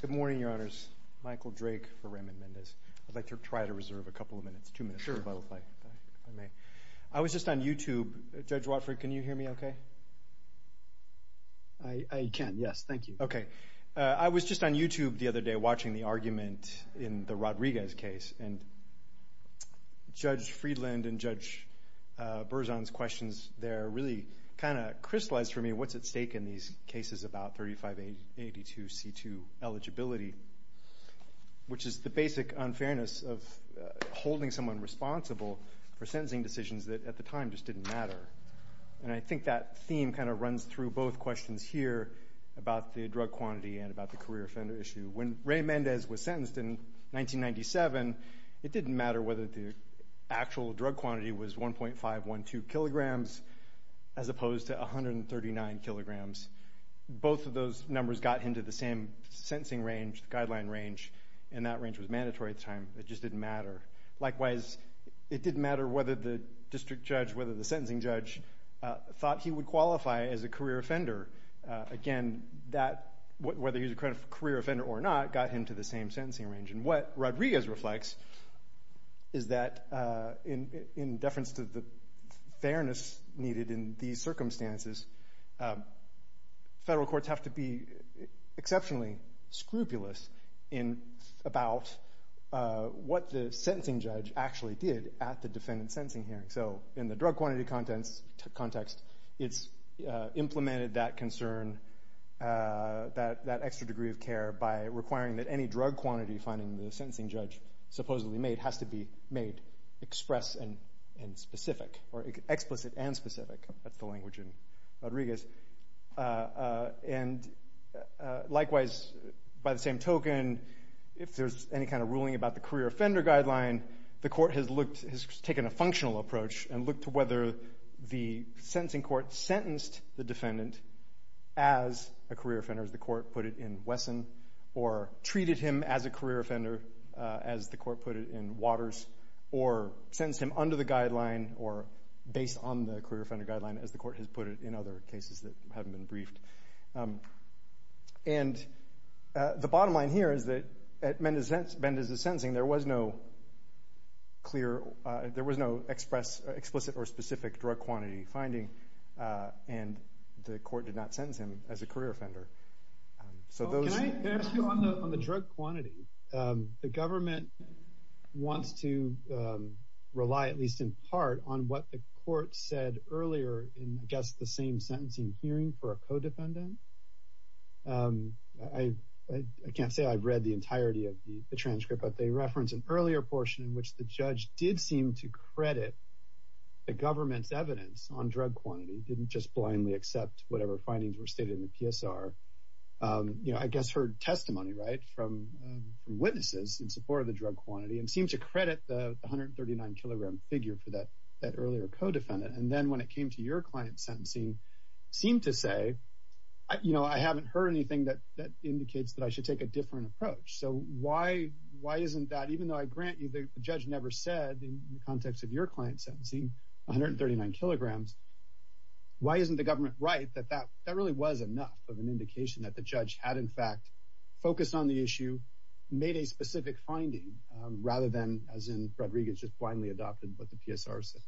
Good morning, your honors. Michael Drake for Raymond Mendez. I'd like to try to reserve a couple of minutes, two minutes, if I may. I was just on YouTube, Judge Watford, can you hear me okay? I can, yes, thank you. Okay. I was just on YouTube the other day watching the argument in the Rodriguez case, and Judge Friedland and Judge Berzon's questions there really kind of crystallized for me what's at stake in these cases about 3582C2 eligibility, which is the basic unfairness of holding someone responsible for sentencing decisions that at the time just didn't matter. And I think that theme kind of runs through both questions here about the drug quantity and about the career offender issue. When Ray Mendez was opposed to 139 kilograms, both of those numbers got him to the same sentencing range, the guideline range, and that range was mandatory at the time. It just didn't matter. Likewise, it didn't matter whether the district judge, whether the sentencing judge thought he would qualify as a career offender. Again, whether he was a career offender or not got him to the same sentencing range. And what Rodriguez reflects is that in deference to the fairness needed in these circumstances, federal courts have to be exceptionally scrupulous about what the sentencing judge actually did at the defendant's sentencing hearing. So in the drug quantity context, it's implemented that concern, that extra degree of care by requiring that any drug quantity finding the sentencing judge supposedly made has to be made express and specific or explicit and specific. That's the language in Rodriguez. And likewise, by the same token, if there's any kind of ruling about the career offender guideline, the court has looked, has taken a functional approach and looked to whether the sentencing court sentenced the defendant as a career offender, as the court put it in Wesson, or treated him as a career offender, as the court put it in Waters, or sentenced him under the guideline or based on the career offender guideline, as the court has put it in other cases that haven't been briefed. And the bottom line here is that at Mendez's sentencing, there was no clear, there was no explicit or specific drug quantity finding, and the court did not The government wants to rely at least in part on what the court said earlier in, I guess, the same sentencing hearing for a codependent. I can't say I've read the entirety of the transcript, but they reference an earlier portion in which the judge did seem to credit the government's evidence on drug quantity didn't just blindly accept whatever findings were stated in the PSR, you know, I guess, heard testimony right from, from witnesses in support of the drug quantity and seem to credit the 139 kilogram figure for that, that earlier codependent. And then when it came to your client sentencing, seem to say, you know, I haven't heard anything that that indicates that I should take a different approach. So why? Why isn't that even though I grant you the judge never said in the context of your client sentencing 139 kilograms, why isn't the government right that that that really was enough of an indication that the judge had, in fact, focused on the issue, made a specific finding, rather than as in Rodriguez just blindly adopted what the PSR said.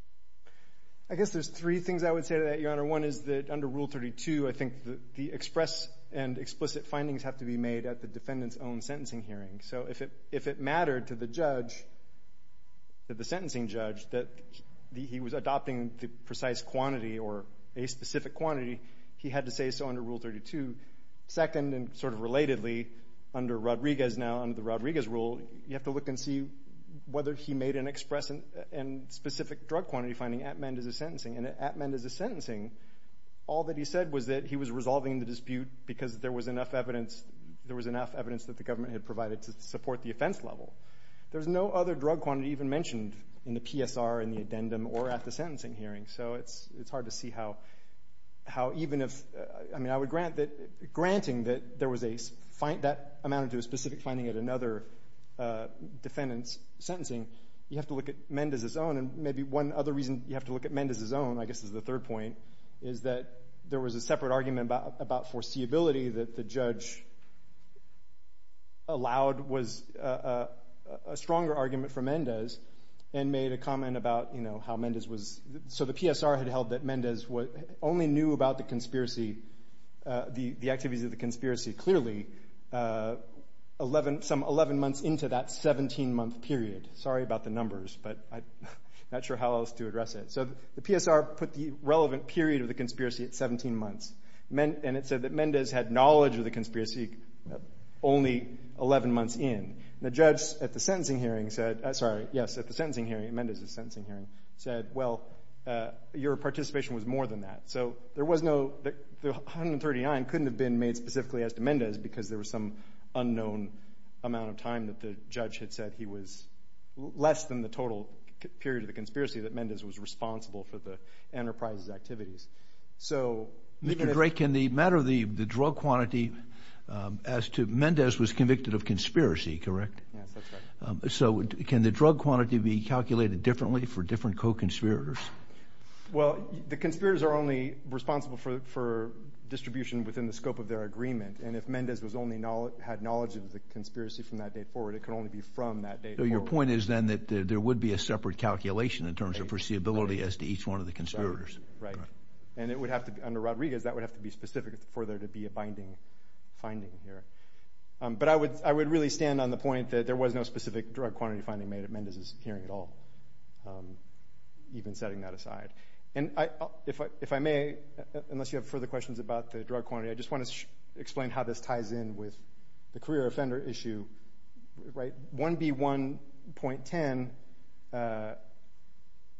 I guess there's three things I would say to that, Your Honor. One is that under Rule 32, I think the express and explicit findings have to be made at the defendant's own sentencing hearing. So if it, if it mattered to the judge, the sentencing judge, that he was adopting the precise quantity or a specific quantity, he had to say so under Rule 32. Second, and sort of relatedly, under Rodriguez now, under the Rodriguez rule, you have to look and see whether he made an express and specific drug quantity finding at Mendez's sentencing. And at Mendez's sentencing, all that he said was that he was resolving the dispute because there was enough evidence, there was enough evidence that the government had provided to support the offense level. There's no other drug quantity even mentioned in the PSR, in the addendum, or at the sentencing hearing. So it's, it's hard to see how, how even if, I mean, I would grant that, granting that there was a, that amounted to a specific finding at another defendant's sentencing, you have to look at Mendez's own. And maybe one other reason you have to look at Mendez's own, I guess is the third point, is that there was a separate argument about, about foreseeability that the judge allowed was a, a, a stronger argument for Mendez and made a comment about, you know, how Mendez was, so the PSR had held that Mendez only knew about the conspiracy, the, the activities of the conspiracy clearly 11, some 11 months into that 17-month period. Sorry about the numbers, but I'm not sure how else to address it. So the PSR put the relevant period of the conspiracy at 17 months, and it said that Mendez had knowledge of the conspiracy only 11 months in. And the judge at the sentencing hearing said, sorry, yes, at the sentencing hearing, Mendez's sentencing hearing, said, well, your participation was more than that. So there was no, 139 couldn't have been made specifically as to Mendez because there was some unknown amount of time that the judge had said he was, less than the total period of the conspiracy that Mendez was responsible for the enterprise's activities. So, Mr. Drake, in the matter of the, the drug quantity as to, Mendez was convicted of conspiracy, correct? Yes, that's right. So can the drug quantity be calculated differently for different co-conspirators? Well, the conspirators are only responsible for, for distribution within the scope of their agreement. And if Mendez was only knowledge, had knowledge of the conspiracy from that date forward, it could only be from that date forward. So your point is then that there would be a separate calculation in terms of foreseeability as to each one of the conspirators. Right. And it would have to be, under Rodriguez, that would have to be specific for there to be a binding finding here. But I would, I would really stand on the point that there was no specific drug quantity finding made at Mendez's hearing at all, even setting that aside. And I, if I, if I may, unless you have further questions about the drug quantity, I just want to explain how this ties in with the career offender issue, right? 1B1.10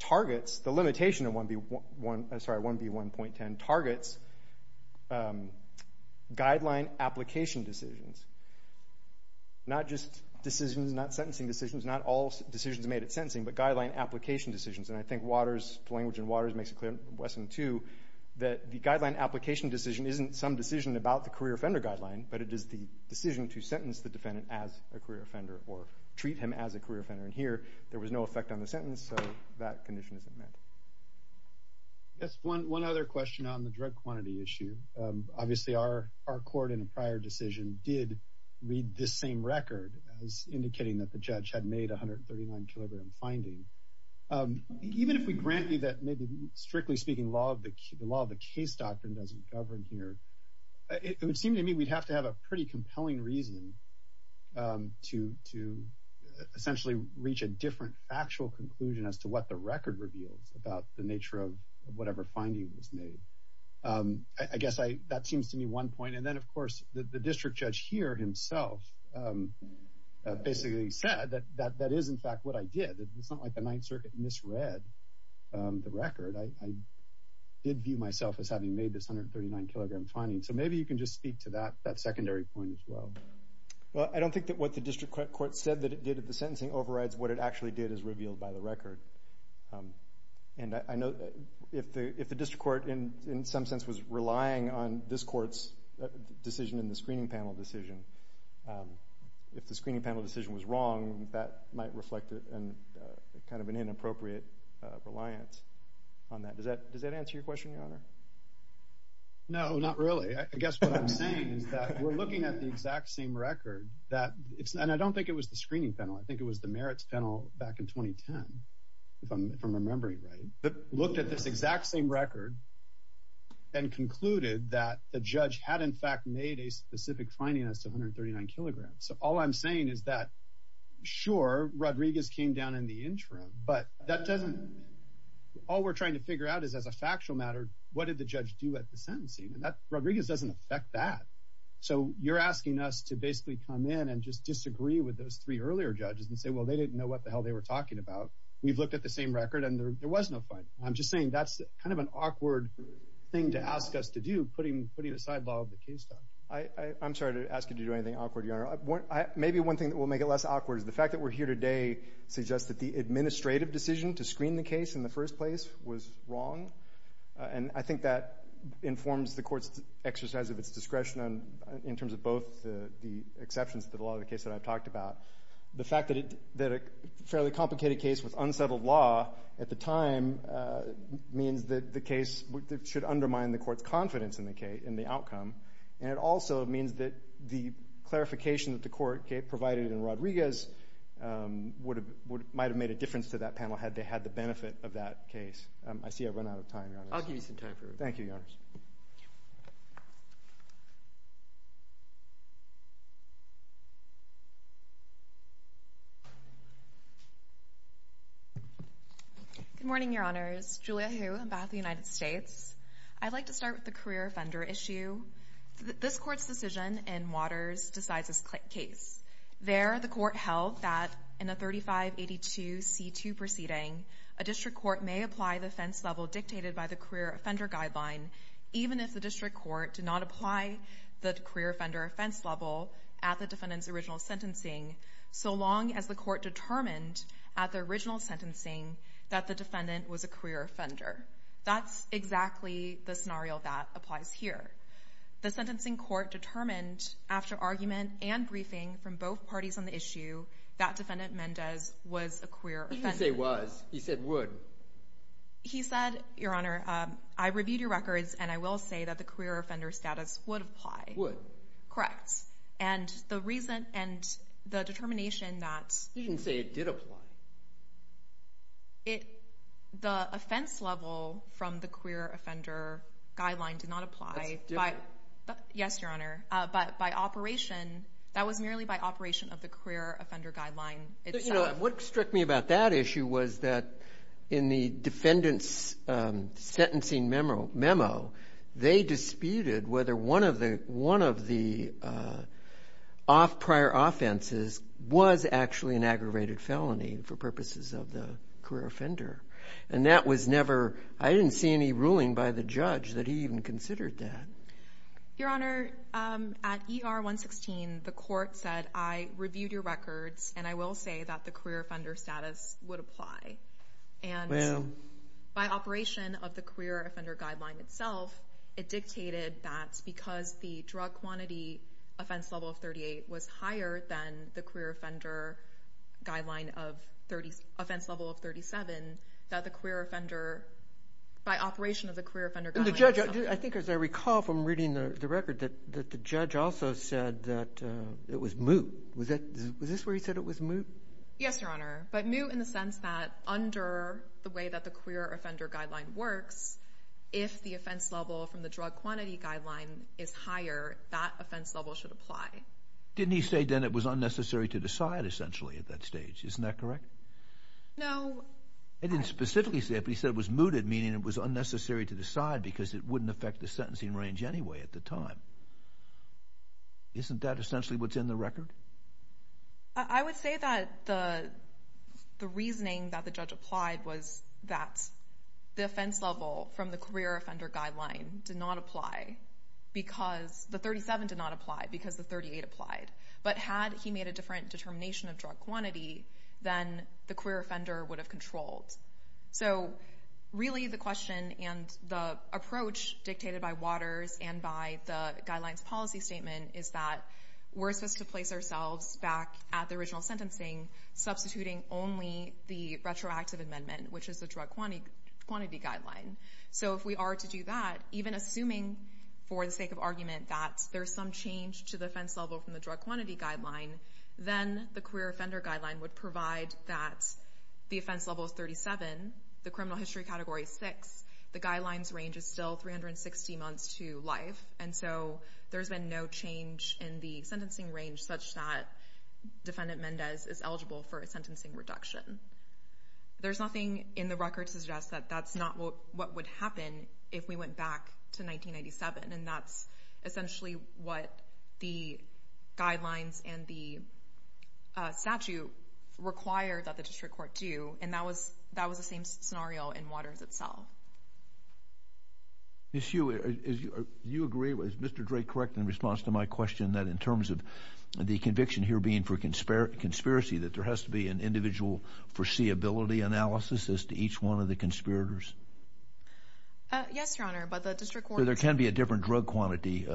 targets, the limitation of 1B1, I'm sorry, 1B1.10 targets guideline application decisions. Not just decisions, not sentencing decisions, not all decisions made at sentencing, but guideline application decisions. And I think Waters, the language in Waters makes a clear lesson, too, that the guideline application decision isn't some decision about the career offender guideline, but it is the decision to sentence the defendant as a career offender, or treat him as a career offender. And here, there was no effect on the sentence, so that condition isn't met. Yes, one, one other question on the drug quantity issue. Obviously, our, our court in a prior decision did read this same record as indicating that the judge had made a 139-kilogram finding. Even if we grant you that maybe, strictly speaking, law of the, the law of the case doctrine doesn't govern here, it would seem to me we'd have to have a pretty compelling reason to, to essentially reach a different factual conclusion as to what the record reveals about the nature of whatever finding was made. I guess I, that seems to me one point. And then, of course, the district judge here himself basically said that, that, that is in fact what I did. It's not like the Ninth Circuit misread the record. I, I did view myself as having made this 139-kilogram finding. So maybe you can just speak to that, that secondary point as well. Well, I don't think that what the district court said that it did at the sentencing overrides what it actually did as revealed by the record. And I, I know that if the, if the district court in, in some sense was relying on this court's decision in the screening panel decision, if the screening panel decision was wrong, that might reflect a, a kind of an inappropriate reliance on that. Does that, does that answer your question, Your Honor? No, not really. I, I guess what I'm saying is that we're looking at the exact same record that it's, and I don't think it was the screening panel. I think it was the merits panel back in 2010, if I'm, if I'm remembering right, that looked at this exact same record and concluded that the judge had in fact made a specific finding as to 139 kilograms. So all I'm saying is that, sure, Rodriguez came down in the interim, but that doesn't, all we're trying to figure out is as a factual matter, what did the judge do at the sentencing? And that, Rodriguez doesn't affect that. So you're asking us to basically come in and just disagree with those three earlier judges and say, well, they didn't know what the hell they were talking about. We've looked at the same record and there was no finding. I'm just saying that's kind of an awkward thing to ask us to do, putting, putting the sidebar of the case down. I, I, I'm sorry to ask you to do anything awkward, Your Honor. One, I, maybe one thing that will make it less awkward is the fact that we're here today suggests that the administrative decision to screen the case in the first place was wrong. And I think that informs the court's exercise of its discretion on, in terms of both the, the exceptions to the law of the case that I've talked about. The fact that it, that a fairly complicated case with unsettled law at the time means that the case should undermine the court's confidence in the case, in the outcome. And it also means that the clarification that the court provided in Rodriguez would have, would, might have made a difference to that panel had they had the benefit of that case. I see I've run out of time, Your Honor. I'll give you some time for it. Thank you. Good morning, Your Honors. Julia Hu, Embattled United States. I'd like to start with the career offender issue. This court's decision in Waters decides this case. There, the court held that in a 3582C2 proceeding, a district court may apply the offense level dictated by the career offender guideline, even if the district court did not apply the career offender offense level at the defendant's original sentencing, so long as the court determined at the original sentencing that the defendant was a career offender. That's exactly the scenario that applies here. The sentencing court determined after argument and briefing from both parties on the issue that Defendant Mendez was a career offender. He didn't say was. He said would. He said, Your Honor, I reviewed your records and I will say that the career offender status would apply. Would. Correct. And the reason, and the determination that. You didn't say it did apply. It, the offense level from the career offender guideline did not apply. That's different. Yes, Your Honor. But by operation, that was merely by operation of the career offender guideline itself. You know, what struck me about that issue was that in the defendant's sentencing memo, they disputed whether one of the, one of the off prior offenses was actually an aggravated felony for purposes of the career offender. And that was never, I didn't see any ruling by the judge that he even considered that. Your Honor, at ER 116, the court said, I reviewed your records and I will say that the career offender status would apply. And. Well. By operation of the career offender guideline itself, it dictated that because the drug quantity offense level of 38 was higher than the career offender guideline of 30, offense level of 37, that the career offender, by operation of the career offender. The judge, I think as I recall from reading the record, that the judge also said that it was moot. Was that, was this where he said it was moot? Yes, Your Honor. But moot in the sense that under the way that the career offender guideline works, if the offense level from the drug quantity guideline is higher, that offense level should apply. Didn't he say then it was unnecessary to decide essentially at that stage, isn't that correct? No. I didn't specifically say it, but he said it was mooted, meaning it was unnecessary to decide because it wouldn't affect the sentencing range anyway at the time. Isn't that essentially what's in the record? I would say that the offense level from the career offender guideline did not apply because, the 37 did not apply because the 38 applied. But had he made a different determination of drug quantity, then the career offender would have controlled. So really the question and the approach dictated by Waters and by the guidelines policy statement is that we're supposed to place ourselves back at the original sentencing, substituting only the retroactive amendment, which is the drug quantity guideline. So if we are to do that, even assuming for the sake of argument that there's some change to the offense level from the drug quantity guideline, then the career offender guideline would provide that the offense level is 37, the criminal history category is 6, the guidelines range is still 360 months to life, and so there's been no change in the sentencing range such that Defendant Mendez is eligible for a sentencing reduction. There's nothing in the record to suggest that that's not what would happen if we went back to 1997, and that's essentially what the guidelines and the statute require that the district court do, and that was the same scenario in Waters itself. Ms. Hsu, do you agree, is Mr. Drake correct in response to my question that in terms of the conviction here being for conspiracy, that there has to be an individual foreseeability analysis as to each one of the conspirators? Yes, Your Honor, but the district court... There can be a different drug quantity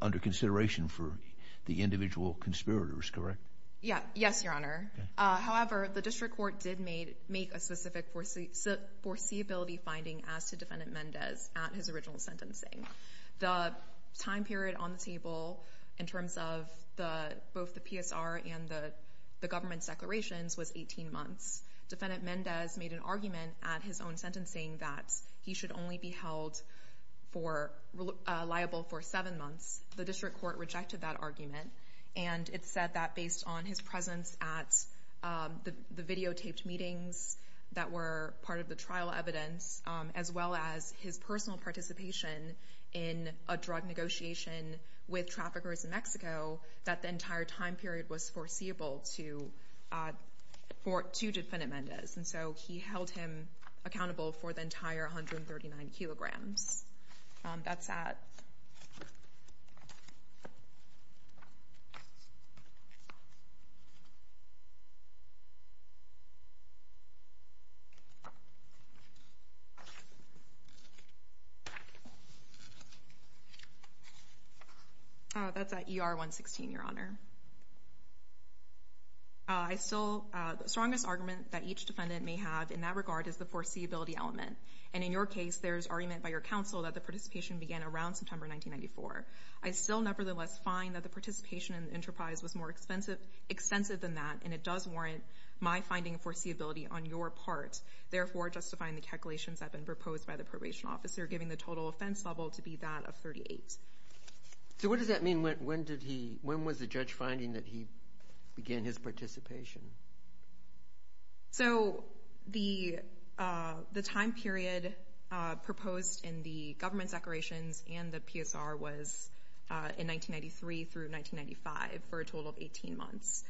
under consideration for the individual conspirators, correct? Yes, Your Honor. However, the district court did make a specific foreseeability finding as to Defendant Mendez at his original sentencing. The time period on the table in terms of both the PSR and the government's declarations was 18 months. Defendant Mendez made an argument at his own sentencing that he should only be held liable for seven months. The district court rejected that argument, and it said that based on his presence at the videotaped meetings that were part of the trial evidence, as well as his personal participation in a drug negotiation with traffickers in Mexico, that the entire time period was foreseeable to Defendant Mendez. And so he held him accountable for the entire 139 kilograms. That's at... That's at ER 116, Your Honor. I still... The strongest argument that each defendant may have in that regard is the foreseeability element. And in your case, there's argument by your counsel that the participation began around September 1994. I still nevertheless find that the participation in the enterprise was more extensive than that, and it does warrant my finding of foreseeability on your part, therefore justifying the calculations that have been proposed by the probation officer, giving the total offense level to be that of 38. So what does that mean? When did he... When was the judge finding that he began his participation? So the time period proposed in the government declarations and the PSR was in 1993 through 1995 for a total of 18 months.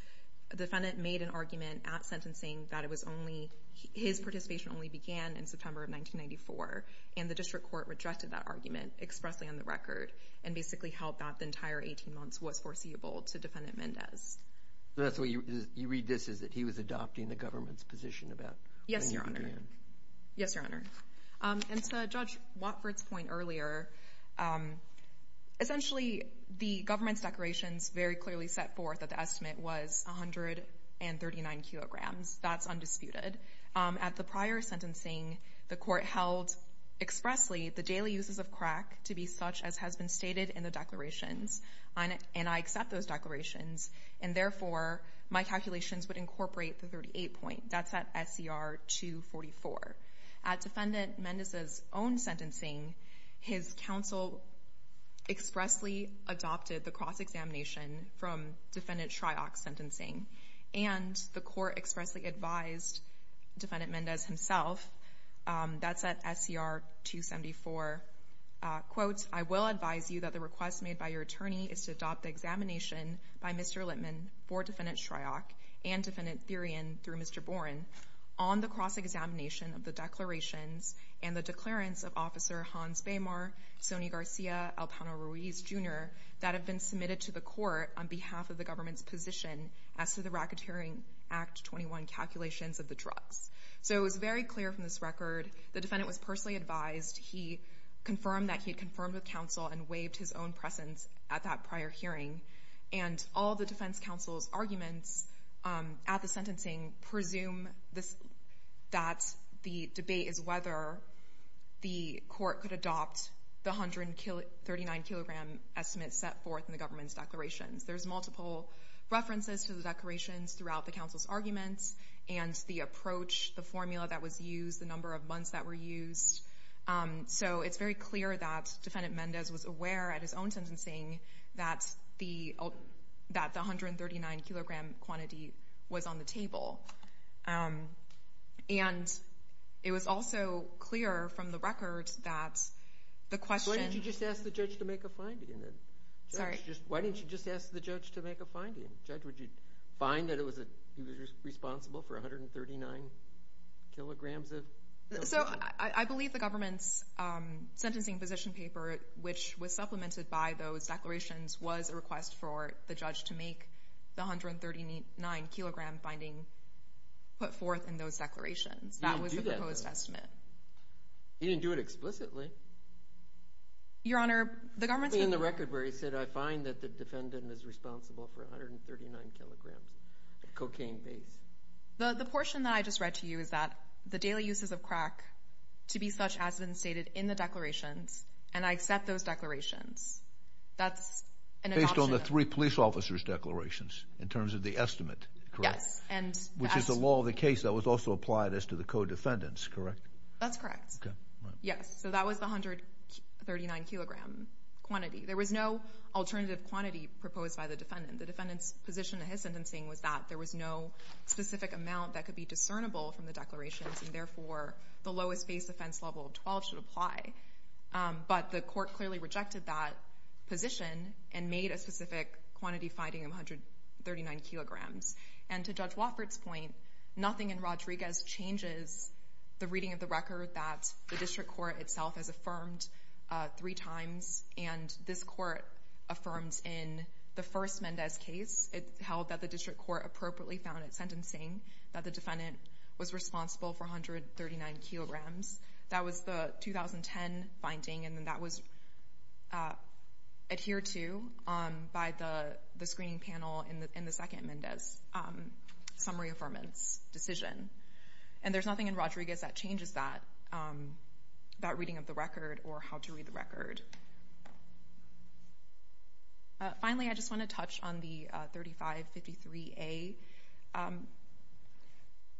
The defendant made an argument at sentencing that it was only... His participation only began in September of 1994, and the district court rejected that argument expressly on the record and basically held that the entire 18 months was foreseeable to Defendant Mendez. So that's what you... You read this as that he was adopting the government's position about... Yes, Your Honor. Yes, Your Honor. And to Judge Watford's point earlier, essentially, the government's declarations very clearly set forth that the estimate was 139 kilograms. That's undisputed. At the prior sentencing, the court held expressly the daily uses of crack to be such as has been stated in the declarations, and I accept those declarations, and therefore, my calculations would incorporate the 38 point. That's at SCR 244. At Defendant Mendez's own sentencing, his counsel expressly adopted the cross-examination from Defendant Shryock's sentencing, and the court expressly advised Defendant Mendez himself. That's at SCR 274. Quote, I will advise you that the request made by your attorney is to adopt the examination by Mr. Littman for Defendant Shryock and Defendant Thurian through Mr. Boren on the cross-examination of the declarations and the declarants of Officer Hans Baymar, Sonny Garcia, Elpano Ruiz Jr. that have been submitted to the court on behalf of the government's as to the Racketeering Act 21 calculations of the drugs. So it was very clear from this record. The defendant was personally advised. He confirmed that he had confirmed with counsel and waived his own presence at that prior hearing, and all the defense counsel's arguments at the sentencing presume that the debate is whether the court could adopt the 139-kilogram estimate set forth in the references to the declarations throughout the counsel's arguments and the approach, the formula that was used, the number of months that were used. So it's very clear that Defendant Mendez was aware at his own sentencing that the 139-kilogram quantity was on the table. And it was also clear from the record that the question... Why didn't you just ask the judge to make a finding? Judge, would you find that he was responsible for 139 kilograms of... So I believe the government's sentencing position paper, which was supplemented by those declarations, was a request for the judge to make the 139-kilogram finding put forth in those declarations. That was the proposed estimate. He didn't do it explicitly. Your Honor, the government's... In the record where he said, I find that the defendant is responsible for 139 kilograms of cocaine base. The portion that I just read to you is that the daily uses of crack, to be such, has been stated in the declarations, and I accept those declarations. That's an adoption... Based on the three police officers' declarations, in terms of the estimate, correct? Yes, and... Which is the law of the case that was also applied as to the co-defendants, correct? That's correct. Okay, right. Yes, so that was the 139-kilogram quantity. There was no alternative quantity proposed by the defendant. The defendant's position in his sentencing was that there was no specific amount that could be discernible from the declarations, and therefore, the lowest base offense level of 12 should apply. But the court clearly rejected that position and made a specific quantity finding of 139 kilograms. And to Judge Wofford's point, nothing in itself has affirmed three times, and this court affirms in the first Mendez case. It held that the district court appropriately found in its sentencing that the defendant was responsible for 139 kilograms. That was the 2010 finding, and then that was adhered to by the screening panel in the second Mendez summary affirmance decision. And there's nothing in Rodriguez that changes that reading of the record or how to read the record. Finally, I just want to touch on the 3553A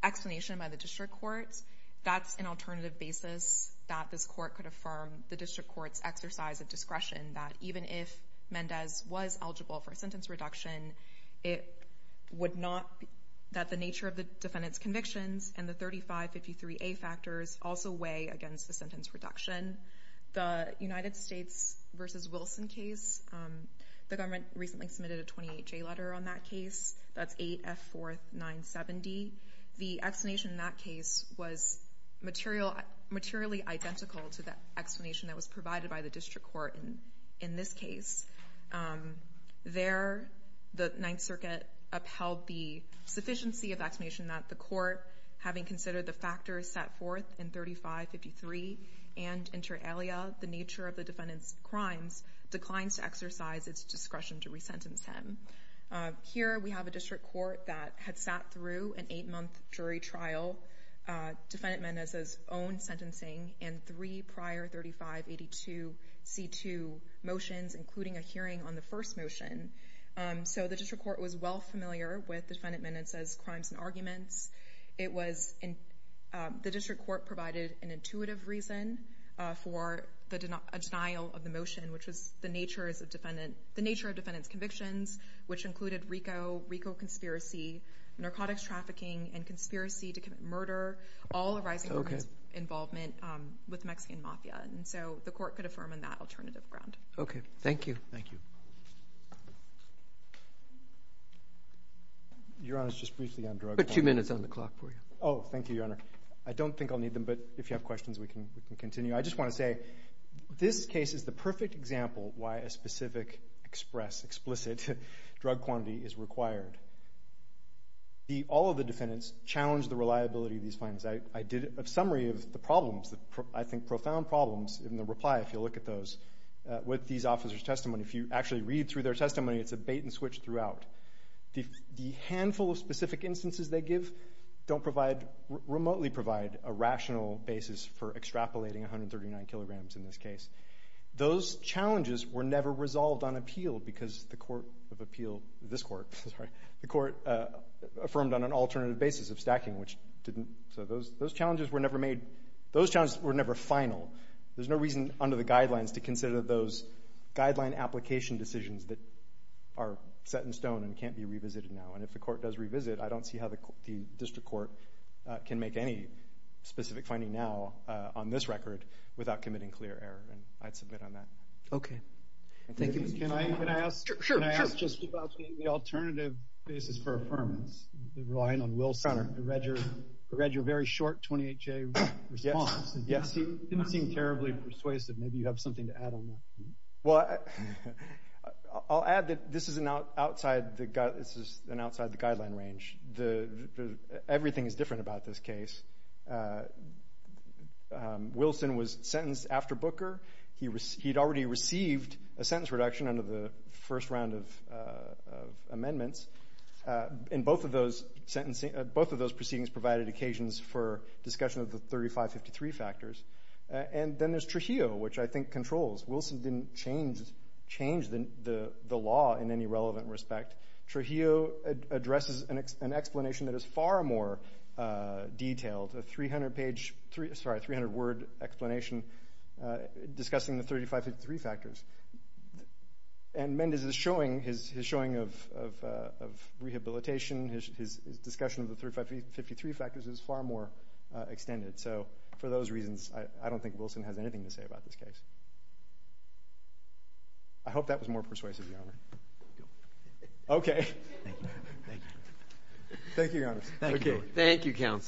explanation by the district courts. That's an alternative basis that this court could affirm the district court's exercise of discretion that even if Mendez was eligible for a sentence reduction, it would not... That the nature of the defendant's convictions and the 3553A factors also weigh against the sentence reduction. The United States versus Wilson case, the government recently submitted a 28-J letter on that case. That's 8F4 970. The explanation in that case was materially identical to the explanation that was provided by the district court in this case. There, the Ninth Circuit upheld the sufficiency of the explanation that the court, having considered the factors set forth in 3553 and inter alia, the nature of the defendant's crimes, declines to exercise its discretion to re-sentence him. Here, we have a district court that had sat through an eight-month jury trial. Defendant Mendez's own sentencing and three prior 3582C2 motions, including a hearing on the first motion. The district court was well familiar with defendant Mendez's crimes and arguments. The district court provided an intuitive reason for a denial of the motion, which was the nature of defendant's convictions, which included RICO, RICO conspiracy, narcotics trafficking, and conspiracy to commit murder, all arising from his involvement with Mexican mafia. And so the court could affirm on that alternative ground. Okay. Thank you. Thank you. Your Honor, just briefly on drug quantity. I'll put two minutes on the clock for you. Oh, thank you, Your Honor. I don't think I'll need them, but if you have questions, we can continue. I just want to say, this case is the perfect example why a specific, express, explicit drug quantity is required. All of the defendants challenged the reliability of these findings. I did a summary of the problems, I think profound problems, in the reply, if you look at those, with these officers' testimony. If you actually read through their testimony, it's a bait-and-switch throughout. The handful of specific instances they give don't provide, remotely provide, a rational basis for extrapolating 139 kilograms in this case. Those challenges were never resolved on appeal because the court of appeal, this court, the court affirmed on an alternative basis of stacking, which didn't, so those challenges were never made, those challenges were never final. There's no reason under the guidelines to consider those guideline application decisions that are set in stone and can't be revisited now. And if the court does revisit, I don't see how the district court can make any specific finding now on this record without committing clear error. And I'd submit on that. Okay. Thank you. Can I ask, can I ask just about the alternative basis for affirmance, relying on Wilson? I read your, I read your very short 28-J response, and it didn't seem terribly persuasive. Maybe you have something to add on that. Well, I'll add that this is an outside the guideline range. Everything is different about this case. Wilson was sentenced after Booker. He had already received a sentence reduction under the first round of amendments. And both of those sentencing, both of those proceedings provided occasions for discussion of the 3553 factors. And then there's Trujillo, which I think controls. Wilson didn't change the law in any relevant respect. Trujillo addresses an explanation that is far more detailed, a 300-page, sorry, 300-word explanation discussing the 3553 factors. And Mendez's showing, his showing of rehabilitation, his discussion of the 3553 factors is far more extended. So for those reasons, I don't think Wilson has anything to say about this case. I hope that was more persuasive, Your Honor. Okay. Thank you, Your Honor.